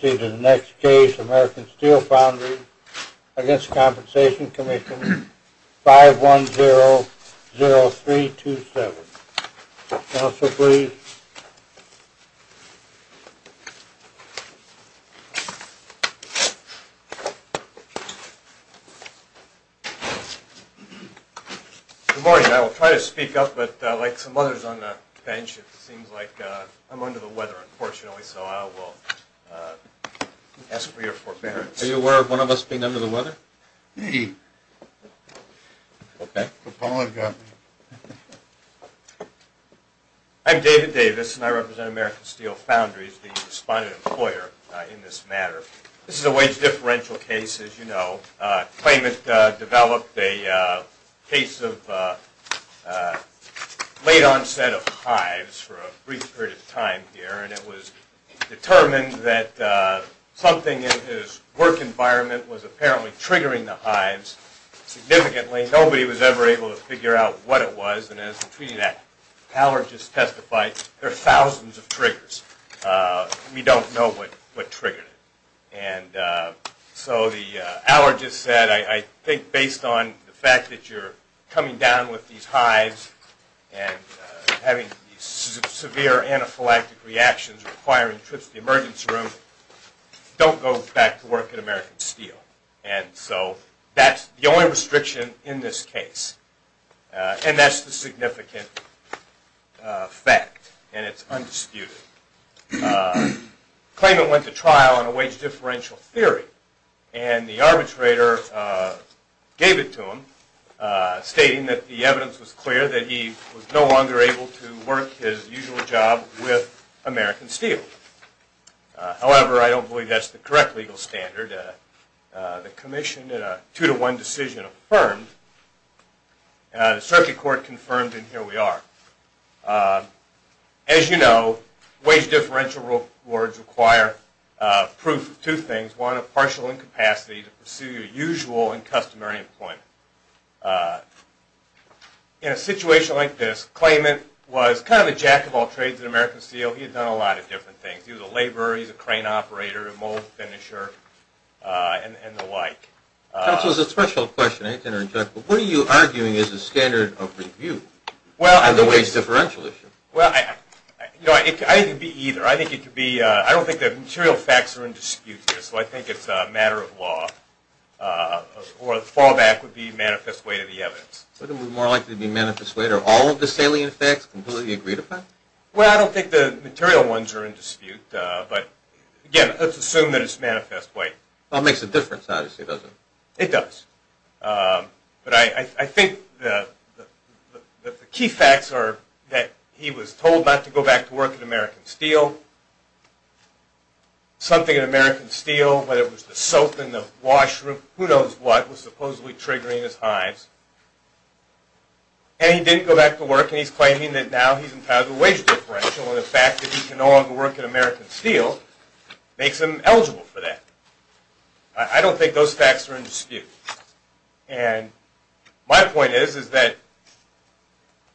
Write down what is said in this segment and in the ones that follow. We now proceed to the next case, American Steel Foundry v. Workers' Compensation Commission, 5100327. Council, please. Good morning. I will try to speak up, but like some others on the bench, it seems like I'm under the weather, unfortunately, so I will ask for your forbearance. Are you aware of one of us being under the weather? Me. Okay. I apologize. I'm David Davis, and I represent American Steel Foundries, the respondent employer in this matter. This is a wage differential case, as you know. A claimant developed a case of late onset of hives for a brief period of time here, and it was determined that something in his work environment was apparently triggering the hives significantly. Nobody was ever able to figure out what it was, and as the treaty that Howard just testified, there are thousands of triggers. We don't know what triggered it. And so Howard just said, I think based on the fact that you're coming down with these hives and having severe anaphylactic reactions requiring trips to the emergency room, don't go back to work at American Steel. And so that's the only restriction in this case, and that's the significant fact, and it's undisputed. The claimant went to trial on a wage differential theory, and the arbitrator gave it to him, stating that the evidence was clear that he was no longer able to work his usual job with American Steel. However, I don't believe that's the correct legal standard. The commission, in a two-to-one decision, affirmed. The circuit court confirmed, and here we are. As you know, wage differential rewards require proof of two things. One, a partial incapacity to pursue your usual and customary employment. In a situation like this, the claimant was kind of the jack of all trades at American Steel. He had done a lot of different things. He was a laborer. He was a crane operator, a mold finisher, and the like. That was a special question. What are you arguing is the standard of review on the wage differential issue? Well, I think it could be either. I don't think the material facts are in dispute here, so I think it's a matter of law, or the fallback would be manifest way to the evidence. Wouldn't it be more likely to be manifest way? Are all of the salient facts completely agreed upon? Well, I don't think the material ones are in dispute. But, again, let's assume that it's manifest way. Well, it makes a difference, obviously, doesn't it? It does. But I think the key facts are that he was told not to go back to work at American Steel. Something at American Steel, whether it was the soap in the washroom, who knows what, was supposedly triggering his hives. And he didn't go back to work, and he's claiming that now he's entitled to a wage differential, and the fact that he can no longer work at American Steel makes him eligible for that. I don't think those facts are in dispute. And my point is that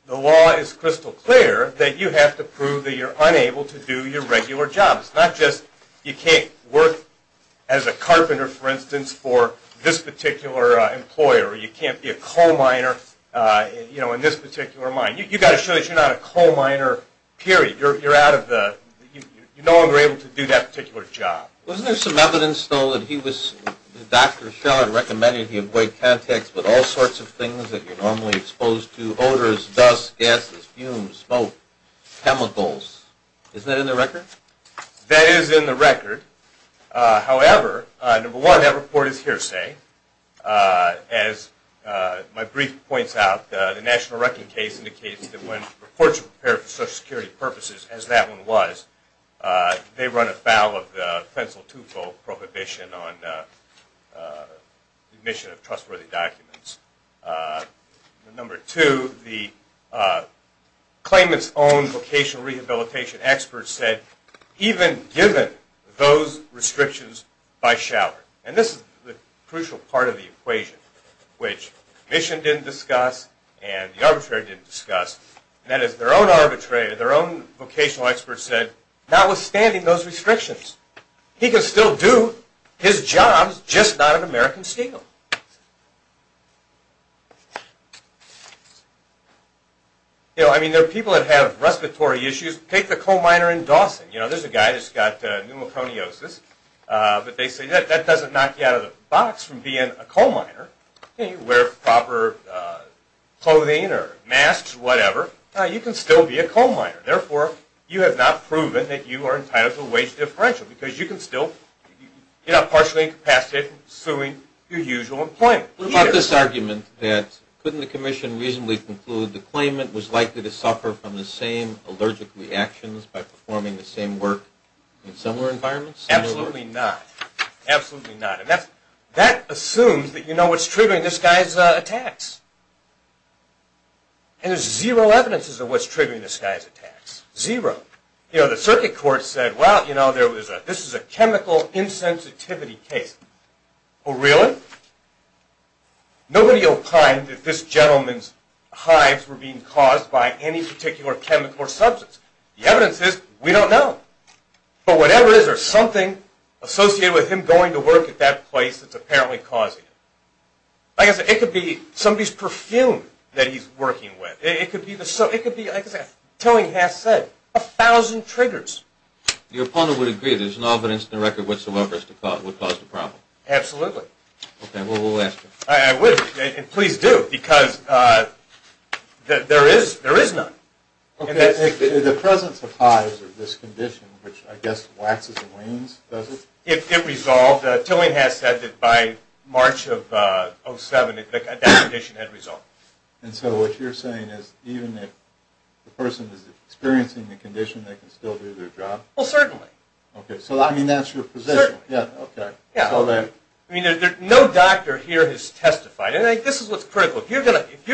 the law is crystal clear that you have to prove that you're unable to do your regular job. It's not just you can't work as a carpenter, for instance, for this particular employer, or you can't be a coal miner in this particular mine. You've got to show that you're not a coal miner, period. You're out of the – you're no longer able to do that particular job. Wasn't there some evidence, though, that he was – that Dr. Schell had recommended he avoid contacts with all sorts of things that you're normally exposed to, odors, dust, gases, fumes, smoke, chemicals? Isn't that in the record? That is in the record. However, number one, that report is hearsay. As my brief points out, the National Wrecking Case indicates that when reports are prepared for Social Security purposes, as that one was, they run afoul of the Pencil Twofold Prohibition on the admission of trustworthy documents. Number two, the claimant's own vocational rehabilitation experts said, even given those restrictions by Scheller – and this is the crucial part of the equation, which the Commission didn't discuss and the Arbitrary didn't discuss. That is, their own Arbitrary, their own vocational experts said, notwithstanding those restrictions, he can still do his job, just not at American scale. You know, I mean, there are people that have respiratory issues. Take the coal miner in Dawson. You know, there's a guy that's got pneumoconiosis, but they say that doesn't knock you out of the box from being a coal miner. You know, you wear proper clothing or masks or whatever. You can still be a coal miner. Therefore, you have not proven that you are entitled to a wage differential, because you can still get up partially incapacitated from pursuing your usual employment. What about this argument that couldn't the Commission reasonably conclude the claimant was likely to suffer from the same allergic reactions by performing the same work in similar environments? Absolutely not. Absolutely not. And that assumes that you know what's triggering this guy's attacks. And there's zero evidences of what's triggering this guy's attacks. Zero. You know, the circuit court said, well, you know, this is a chemical insensitivity case. Well, really? Nobody opined that this gentleman's hives were being caused by any particular chemical or substance. The evidence is, we don't know. But whatever it is, there's something associated with him going to work at that place that's apparently causing it. I guess it could be somebody's perfume that he's working with. It could be, like Tillinghast said, a thousand triggers. Your opponent would agree there's no evidence in the record whatsoever as to what caused the problem. Absolutely. Okay, well, we'll ask him. I would, and please do, because there is none. The presence of hives or this condition, which I guess waxes and wanes, does it? It resolved. Tillinghast said that by March of 2007, that condition had resolved. And so what you're saying is even if the person is experiencing the condition, they can still do their job? Well, certainly. Okay, so I mean that's your position. Certainly. Yeah, okay. I mean, no doctor here has testified. And I think this is what's critical. If you're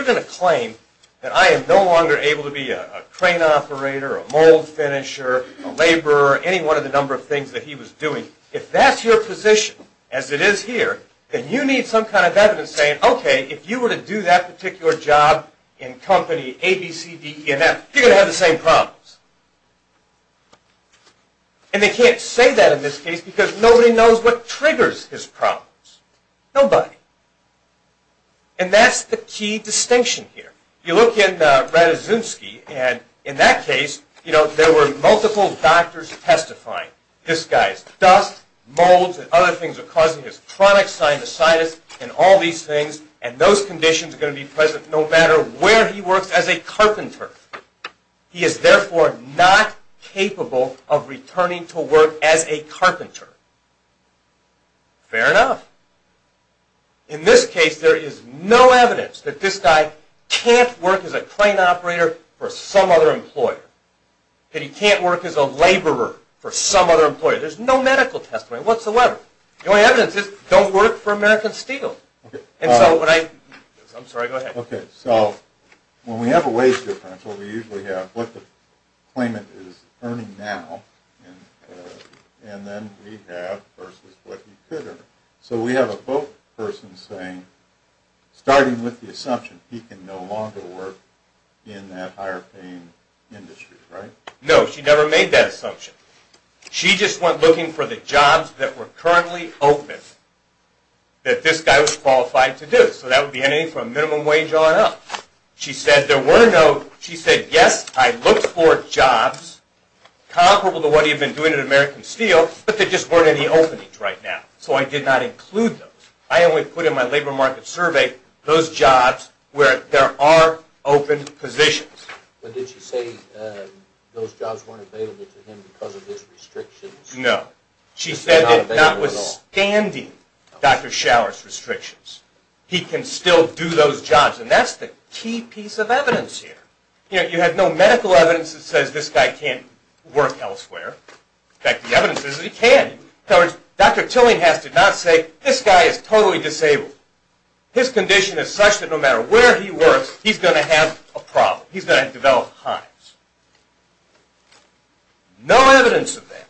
going to claim that I am no longer able to be a crane operator, a mold finisher, a laborer, or any one of the number of things that he was doing, if that's your position, as it is here, then you need some kind of evidence saying, okay, if you were to do that particular job in company A, B, C, D, E, and F, you're going to have the same problems. And they can't say that in this case because nobody knows what triggers his problems. Nobody. And that's the key distinction here. You look in Radizinski, and in that case, you know, there were multiple doctors testifying. This guy's dust, molds, and other things are causing his chronic sinusitis and all these things, and those conditions are going to be present no matter where he works as a carpenter. He is therefore not capable of returning to work as a carpenter. Fair enough. In this case, there is no evidence that this guy can't work as a crane operator for some other employer, that he can't work as a laborer for some other employer. There's no medical testimony whatsoever. The only evidence is, don't work for American Steel. And so when I, I'm sorry, go ahead. Okay, so when we have a wage differential, we usually have what the claimant is earning now, and then we have versus what he could earn. So we have a both person saying, starting with the assumption, he can no longer work in that higher paying industry, right? No, she never made that assumption. She just went looking for the jobs that were currently open that this guy was qualified to do. So that would be anything from minimum wage on up. She said there were no, she said, yes, I looked for jobs comparable to what he had been doing at American Steel, but they just weren't any openings right now. So I did not include those. I only put in my labor market survey those jobs where there are open positions. But did she say those jobs weren't available to him because of his restrictions? No. She said that notwithstanding Dr. Shower's restrictions, he can still do those jobs. And that's the key piece of evidence here. You have no medical evidence that says this guy can't work elsewhere. In fact, the evidence is that he can. In other words, Dr. Tillinghast did not say, this guy is totally disabled. His condition is such that no matter where he works, he's going to have a problem. He's going to develop hives. No evidence of that.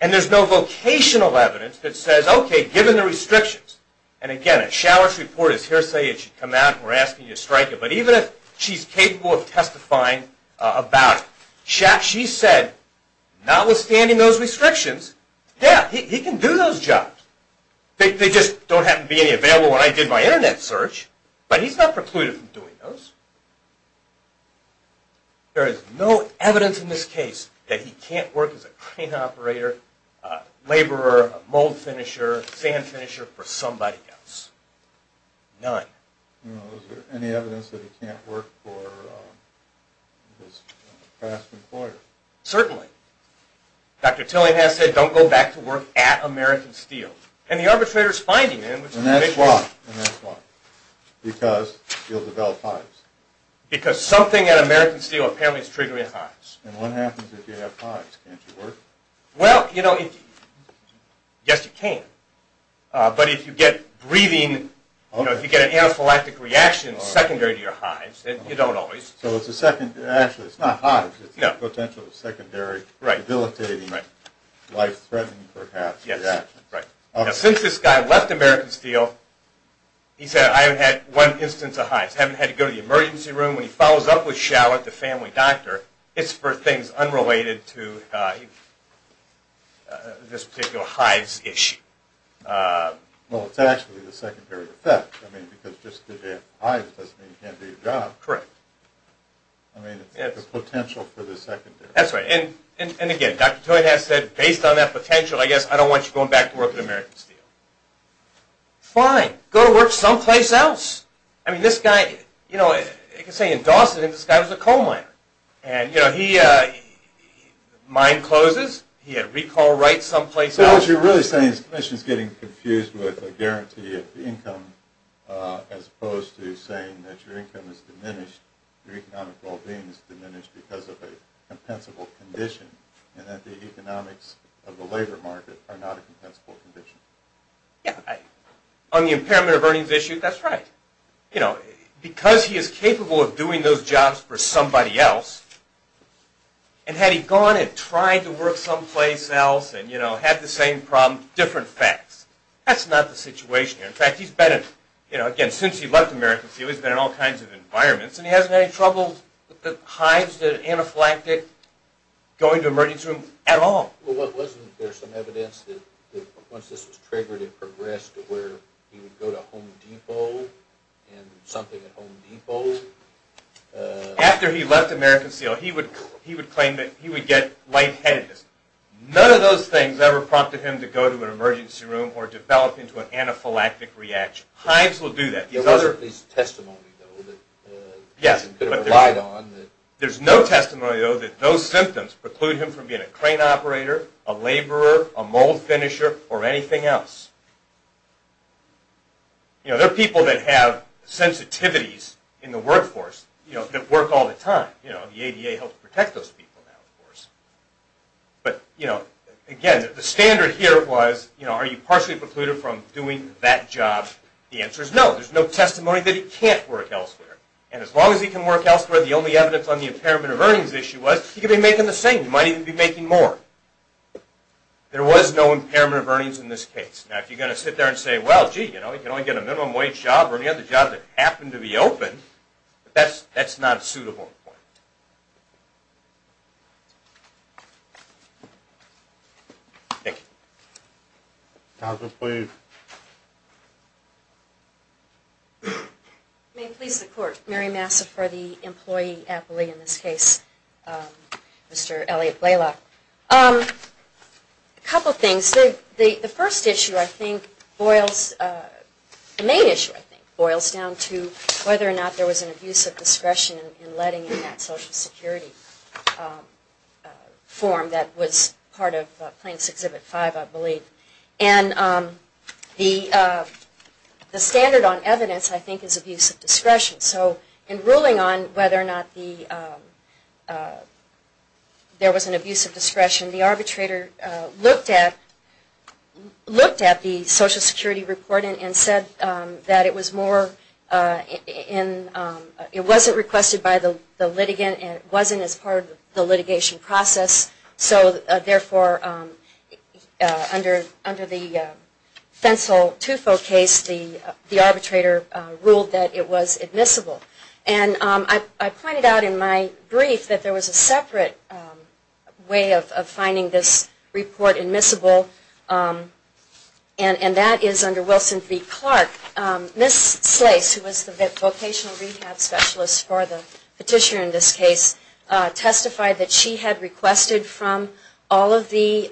And there's no vocational evidence that says, okay, given the restrictions, and again, if Shower's report is hearsay, it should come out and we're asking you to strike it. But even if she's capable of testifying about it, she said, notwithstanding those restrictions, yeah, he can do those jobs. They just don't happen to be any available when I did my Internet search, but he's not precluded from doing those. There is no evidence in this case that he can't work as a crane operator, laborer, mold finisher, sand finisher for somebody else. None. Is there any evidence that he can't work for his past employer? Certainly. Dr. Tillinghast said, don't go back to work at American Steel. And the arbitrator's finding, in which case... And that's why. Because he'll develop hives. Because something at American Steel apparently is triggering hives. And what happens if you have hives? Can't you work? Well, you know, yes, you can. But if you get breathing, if you get an anaphylactic reaction secondary to your hives, you don't always. So it's a secondary, actually, it's not hives. It's the potential secondary, debilitating, life-threatening, perhaps, reaction. Since this guy left American Steel, he said, I haven't had one instance of hives. Haven't had to go to the emergency room. And when he follows up with Shallot, the family doctor, it's for things unrelated to this particular hives issue. Well, it's actually the secondary effect. I mean, because just because you have hives doesn't mean you can't do your job. Correct. I mean, it's the potential for the secondary. That's right. And again, Dr. Tillinghast said, based on that potential, I guess I don't want you going back to work at American Steel. Fine. Go to work someplace else. I mean, this guy, you know, you can say in Dawson, this guy was a coal miner. And, you know, he, mine closes, he had recall rights someplace else. So what you're really saying is the commission is getting confused with a guarantee of income as opposed to saying that your income is diminished, your economic well-being is diminished because of a compensable condition, and that the economics of the labor market are not a compensable condition. Yeah. On the impairment of earnings issue, that's right. You know, because he is capable of doing those jobs for somebody else, and had he gone and tried to work someplace else and, you know, had the same problem, different facts. That's not the situation here. In fact, he's been in, you know, again, since he left American Steel, he's been in all kinds of environments, and he hasn't had any trouble with the hives, the anaphylactic, going to emergency rooms at all. Well, wasn't there some evidence that once this was triggered and progressed to where he would go to Home Depot and something at Home Depot? After he left American Steel, he would claim that he would get lightheadedness. None of those things ever prompted him to go to an emergency room or develop into an anaphylactic reaction. Hives will do that. There was at least testimony, though, that he could have relied on. There's no testimony, though, that those symptoms preclude him from being a crane operator, a laborer, a mold finisher, or anything else. You know, there are people that have sensitivities in the workforce, you know, that work all the time. You know, the ADA helps protect those people now, of course. But, you know, again, the standard here was, you know, are you partially precluded from doing that job? The answer is no. There's no testimony that he can't work elsewhere. And as long as he can work elsewhere, the only evidence on the impairment of earnings issue was he could be making the same money and be making more. There was no impairment of earnings in this case. Now, if you're going to sit there and say, well, gee, you know, you can only get a minimum wage job or any other job that happened to be open, that's not a suitable point. Thank you. Doctor, please. May it please the court. Mary Massa for the employee appellee in this case, Mr. Elliot Blalock. A couple of things. The first issue, I think, boils, the main issue, I think, boils down to whether or not there was an abuse of discretion in letting in that Social Security form that was part of Plaintiffs' Exhibit 5, I believe. And the standard on evidence, I think, is abuse of discretion. So in ruling on whether or not there was an abuse of discretion, the arbitrator looked at the Social Security report and said that it was more in, it wasn't requested by the litigant and it wasn't as part of the litigation process. So, therefore, under the Fensel-Tufo case, the arbitrator ruled that it was admissible. And I pointed out in my brief that there was a separate way of finding this report admissible, and that is under Wilson v. Clark. Ms. Slace, who was the vocational rehab specialist for the petitioner in this case, testified that she had requested from all of the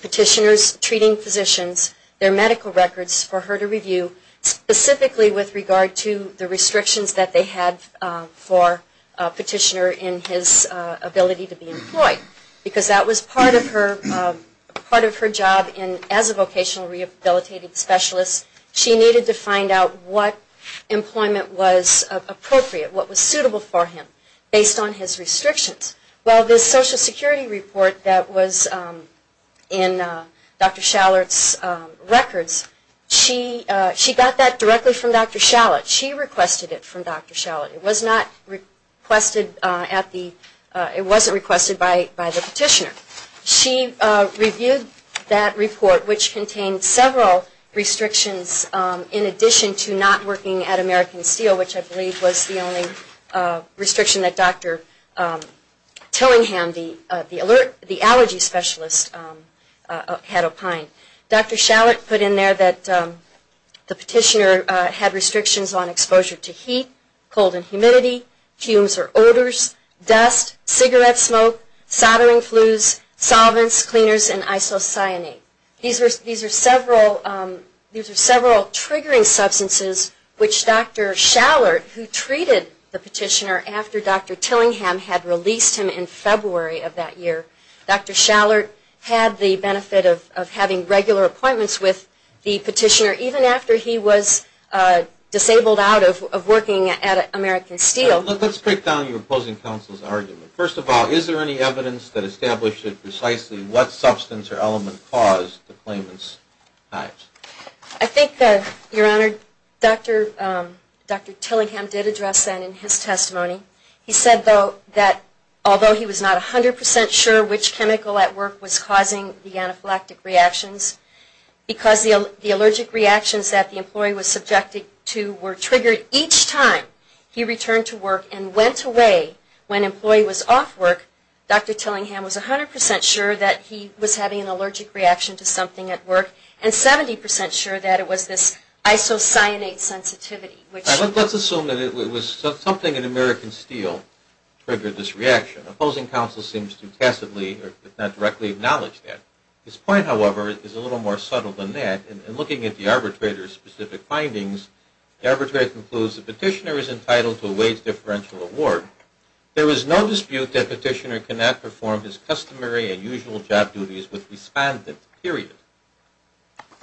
petitioners treating physicians their medical records for her to review, specifically with regard to the restrictions that they had for a petitioner in his ability to be employed. Because that was part of her job as a vocational rehabilitative specialist. She needed to find out what employment was appropriate, what was suitable for him, based on his restrictions. Well, this Social Security report that was in Dr. Schallert's records, she got that directly from Dr. Schallert. She requested it from Dr. Schallert. It was not requested at the, it wasn't requested by the petitioner. She reviewed that report, which contained several restrictions in addition to not working at American Steel, which I believe was the only restriction that Dr. Tillingham, the allergy specialist, had opined. Dr. Schallert put in there that the petitioner had restrictions on exposure to heat, cold and humidity, fumes or odors, dust, cigarette smoke, soldering flues, solvents, cleaners, and isocyanate. These are several triggering substances which Dr. Schallert, who treated the petitioner after Dr. Tillingham had released him in February of that year, Dr. Schallert had the benefit of having regular appointments with the petitioner even after he was disabled out of working at American Steel. Let's break down your opposing counsel's argument. First of all, is there any evidence that established precisely what substance or element caused the claimant's act? I think that, Your Honor, Dr. Tillingham did address that in his testimony. He said, though, that although he was not 100% sure which chemical at work was causing the anaphylactic reactions, because the allergic reactions that the employee was subjected to were triggered each time he returned to work and went away when employee was off work, Dr. Tillingham was 100% sure that he was having an allergic reaction to something at work and 70% sure that it was this isocyanate sensitivity. Let's assume that it was something at American Steel that triggered this reaction. Opposing counsel seems to tacitly, if not directly, acknowledge that. His point, however, is a little more subtle than that. In looking at the arbitrator's specific findings, the arbitrator concludes the petitioner is entitled to a wage differential award. There is no dispute that petitioner cannot perform his customary and usual job duties with respondent, period.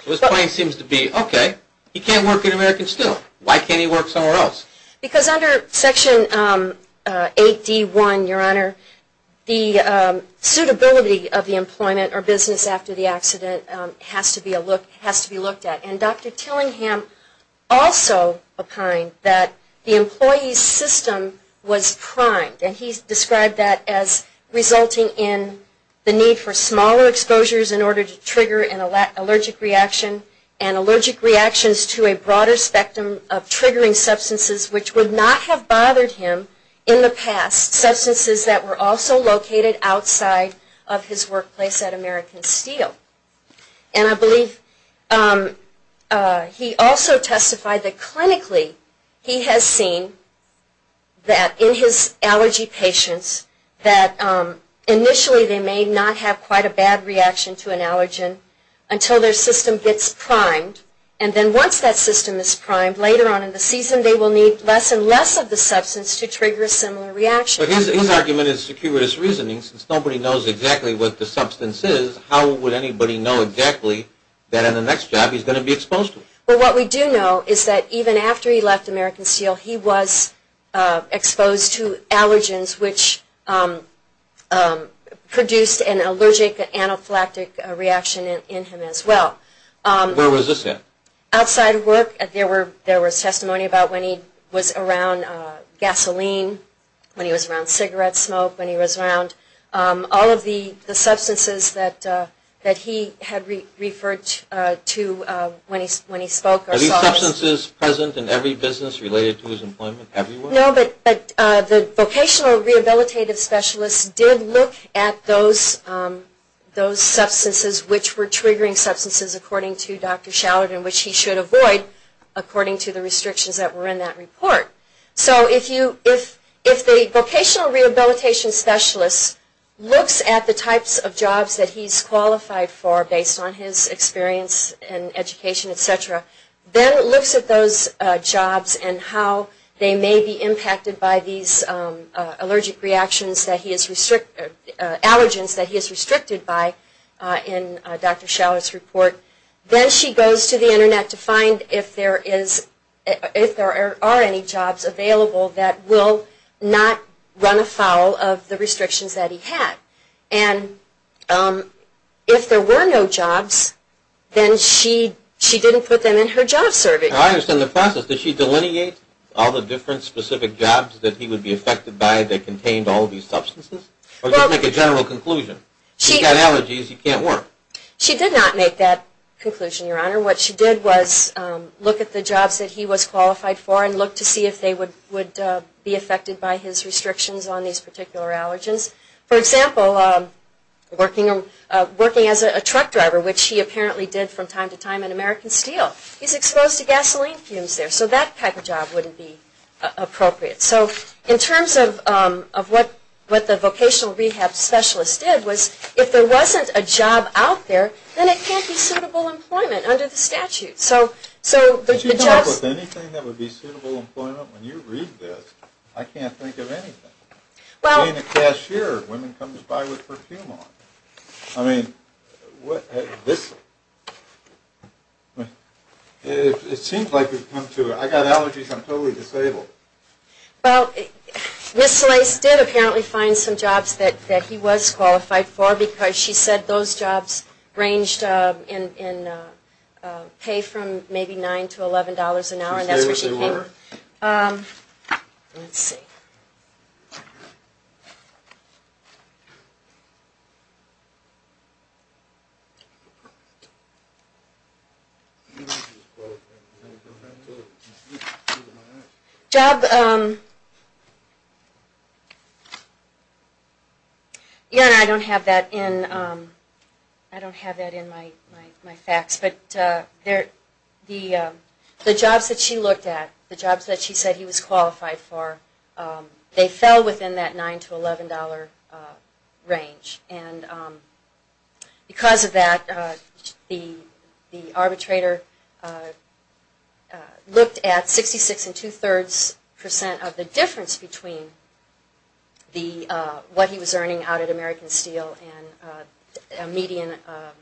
So his point seems to be, okay, he can't work at American Steel. Why can't he work somewhere else? Because under Section 8D1, Your Honor, the suitability of the employment or business after the accident has to be looked at. And Dr. Tillingham also opined that the employee's system was primed. And he described that as resulting in the need for smaller exposures in order to trigger an allergic reaction and allergic reactions to a broader spectrum of triggering substances, which would not have bothered him in the past, substances that were also located outside of his workplace at American Steel. And I believe he also testified that clinically he has seen that in his allergy patients, that initially they may not have quite a bad reaction to an allergen until their system gets primed. And then once that system is primed, later on in the season, they will need less and less of the substance to trigger a similar reaction. But his argument is securitous reasoning. Since nobody knows exactly what the substance is, how would anybody know exactly that in the next job he's going to be exposed to? Well, what we do know is that even after he left American Steel, he was exposed to allergens which produced an allergic anaphylactic reaction in him as well. Where was this at? Outside of work, there was testimony about when he was around gasoline, when he was around cigarette smoke, when he was around all of the substances that he had referred to when he spoke or saw. Are these substances present in every business related to his employment? No, but the vocational rehabilitative specialists did look at those substances which were triggering substances according to Dr. Shallard and which he should avoid according to the restrictions that were in that report. So if the vocational rehabilitation specialist looks at the types of jobs that he's qualified for based on his experience and education, etc., then looks at those jobs and how they may be impacted by these allergic reactions, allergens that he is restricted by in Dr. Shallard's report. Then she goes to the Internet to find if there are any jobs available that will not run afoul of the restrictions that he had. And if there were no jobs, then she didn't put them in her job survey. I understand the process. Did she delineate all the different specific jobs that he would be affected by that contained all of these substances? Or just make a general conclusion. If you've got allergies, you can't work. She did not make that conclusion, Your Honor. What she did was look at the jobs that he was qualified for and look to see if they would be affected by his restrictions on these particular allergens. For example, working as a truck driver, which he apparently did from time to time in American Steel. He's exposed to gasoline fumes there, so that type of job wouldn't be appropriate. So in terms of what the vocational rehab specialist did was if there wasn't a job out there, then it can't be suitable employment under the statute. So the jobs... Could you come up with anything that would be suitable employment? When you read this, I can't think of anything. Well... Being a cashier, women come by with perfume on. I mean, this... It seems like we've come to... I've got allergies, I'm totally disabled. Well, Ms. Slase did apparently find some jobs that he was qualified for because she said those jobs ranged in pay from maybe $9 to $11 an hour, and that's where she came from. Let's see. I don't have that in my facts, but the jobs that she looked at, the jobs that she said he was qualified for, they fell within that $9 to $11 range. And because of that, the arbitrator looked at 66 and two-thirds percent of the difference between what he was earning out at American Steel and a median of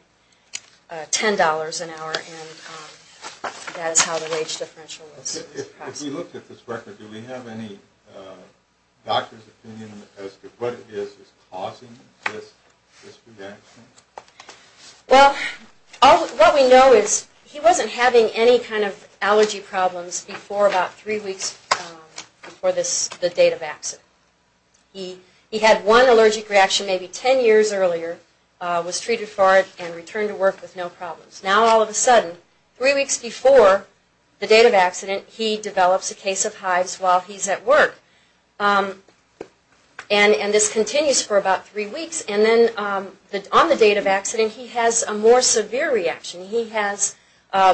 $10 an hour, and that is how the wage differential was expressed. If we looked at this record, do we have any doctor's opinion as to what it is that's causing this reaction? Well, what we know is he wasn't having any kind of allergy problems before about three weeks before the date of accident. He had one allergic reaction maybe 10 years earlier, was treated for it, and returned to work with no problems. Now all of a sudden, three weeks before the date of accident, he develops a case of hives while he's at work. And this continues for about three weeks. And then on the date of accident, he has a more severe reaction. He has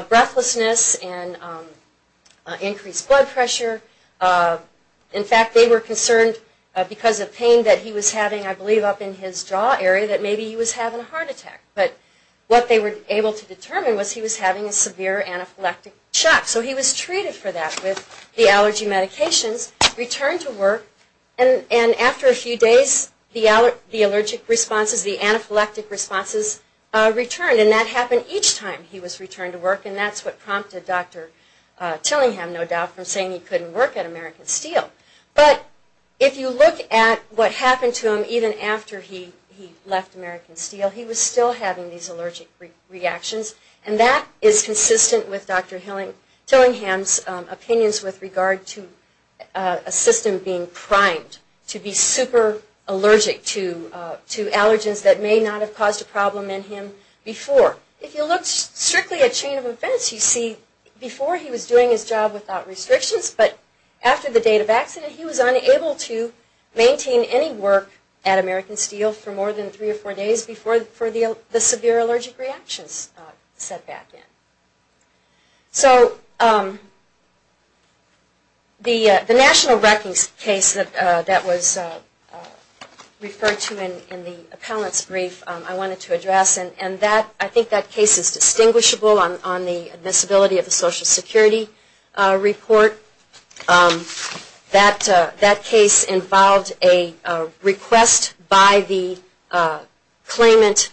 breathlessness and increased blood pressure. In fact, they were concerned because of pain that he was having, I believe, up in his jaw area, that maybe he was having a heart attack. But what they were able to determine was he was having a severe anaphylactic shock. So he was treated for that with the allergy medications, returned to work, and after a few days, the allergic responses, the anaphylactic responses, returned. And that happened each time he was returned to work. And that's what prompted Dr. Tillingham, no doubt, from saying he couldn't work at American Steel. But if you look at what happened to him even after he left American Steel, he was still having these allergic reactions. And that is consistent with Dr. Tillingham's opinions with regard to a system being primed to be super allergic to allergens that may not have caused a problem in him before. If you look strictly at chain of events, you see before he was doing his job without restrictions, but after the date of accident, he was unable to maintain any work at American Steel for more than three or four days before the severe allergic reactions set back in. So the national reckoning case that was referred to in the appellant's brief, I wanted to address, and I think that case is distinguishable on the admissibility of the Social Security report. That case involved a request by the claimant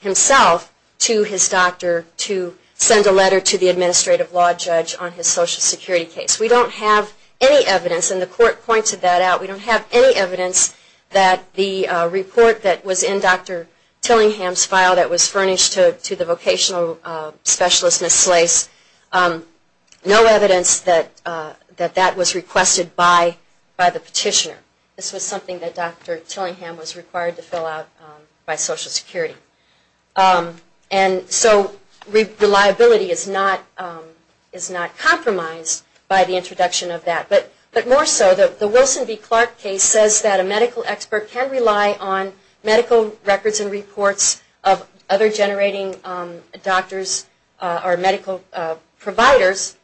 himself to his doctor to send a letter to the administrative law judge on his Social Security case. We don't have any evidence, and the court pointed that out, we don't have any evidence that the report that was in Dr. Tillingham's file that was furnished to the vocational specialist, Ms. Slace, no evidence that that was requested by the petitioner. This was something that Dr. Tillingham was required to fill out by Social Security. And so reliability is not compromised by the introduction of that. But more so, the Wilson v. Clark case says that a medical expert can rely on medical records and reports of other generating doctors or medical providers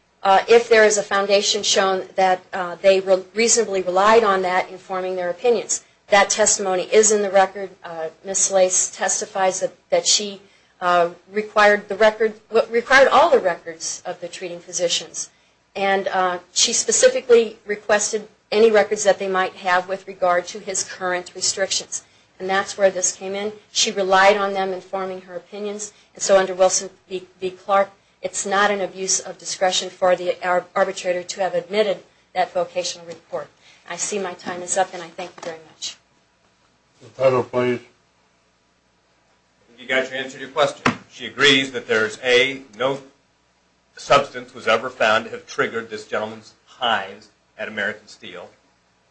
if there is a foundation shown that they reasonably relied on that informing their opinions. That testimony is in the record. Ms. Slace testifies that she required all the records of the treating physicians. And she specifically requested any records that they might have with regard to his current restrictions. And that's where this came in. She relied on them informing her opinions. And so under Wilson v. Clark, it's not an abuse of discretion for the arbitrator to have admitted that vocational report. I see my time is up, and I thank you very much. The panel, please. I think you guys have answered your question. She agrees that there is no substance that was ever found to have triggered this gentleman's hives at American Steel.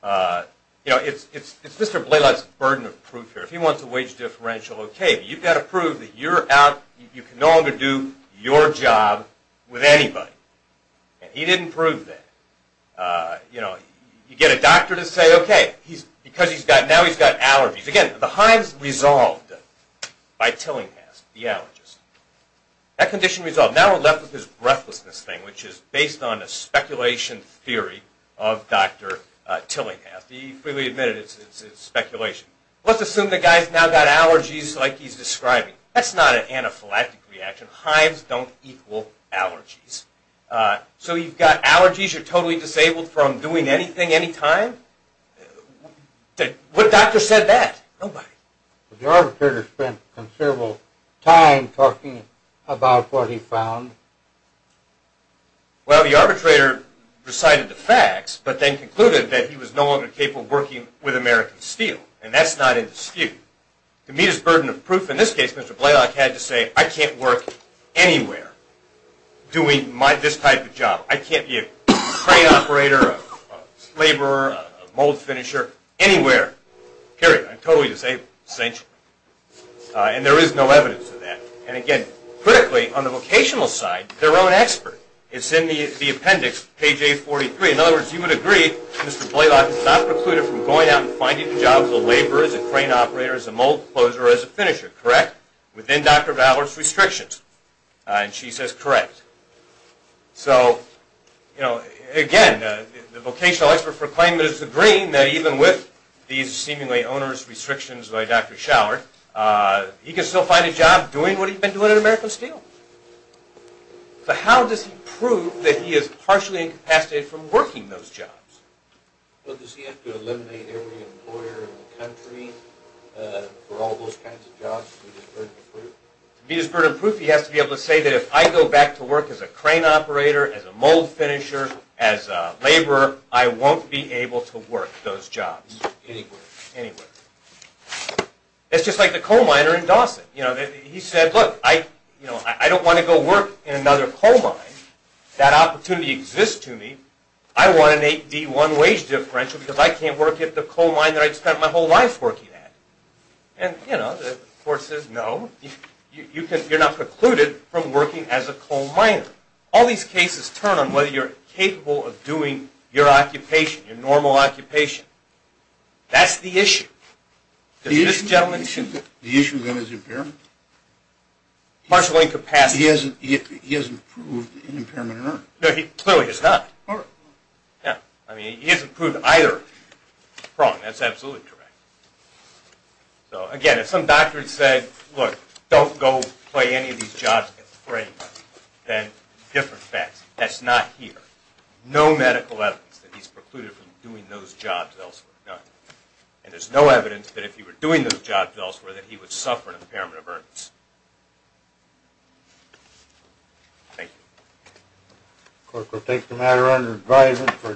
You know, it's Mr. Blaylock's burden of proof here. If he wants a wage differential, okay. You've got to prove that you can no longer do your job with anybody. And he didn't prove that. You get a doctor to say, okay, because now he's got allergies. Again, the hives resolved by Tillinghast, the allergist. That condition resolved. Now we're left with this breathlessness thing, which is based on a speculation theory of Dr. Tillinghast. He freely admitted it's speculation. Let's assume the guy's now got allergies like he's describing. That's not an anaphylactic reaction. Hives don't equal allergies. So you've got allergies. You're totally disabled from doing anything, anytime. What doctor said that? Nobody. The arbitrator spent considerable time talking about what he found. Well, the arbitrator recited the facts, but then concluded that he was no longer capable of working with American Steel, and that's not in dispute. To meet his burden of proof, in this case, Mr. Blaylock had to say, I can't work anywhere doing this type of job. I can't be a crane operator, a laborer, a mold finisher, anywhere. Period. I'm totally disabled, essentially. And there is no evidence of that. And, again, critically, on the vocational side, their own expert. It's in the appendix, page 843. In other words, you would agree Mr. Blaylock is not precluded from going out and finding a job as a laborer, as a crane operator, as a mold closer, or as a finisher. Correct? Within Dr. Schallert's restrictions. And she says correct. So, again, the vocational expert for claim is agreeing that even with these seemingly onerous restrictions by Dr. Schallert, he can still find a job doing what he's been doing at American Steel. But how does he prove that he is partially incapacitated from working those jobs? Well, does he have to eliminate every employer in the country for all those kinds of jobs to be disburdened proof? To be disburdened proof, he has to be able to say that if I go back to work as a crane operator, as a mold finisher, as a laborer, I won't be able to work those jobs. Anywhere. Anywhere. It's just like the coal miner in Dawson. You know, he said, look, I don't want to go work in another coal mine. That opportunity exists to me. I want an 8D1 wage differential because I can't work at the coal mine that I've spent my whole life working at. And, you know, the court says no. You're not precluded from working as a coal miner. All these cases turn on whether you're capable of doing your occupation, your normal occupation. That's the issue. Does this gentleman? The issue then is impairment? Martial incapacity. He hasn't proved an impairment or not. No, he clearly has not. Yeah. I mean, he hasn't proved either. Wrong. That's absolutely correct. So, again, if some doctor had said, look, don't go play any of these jobs at the crane, then different facts. That's not here. No medical evidence that he's precluded from doing those jobs elsewhere. None. And there's no evidence that if he were doing those jobs elsewhere that he would suffer an impairment of earnest. Thank you. The court will take the matter under advisement.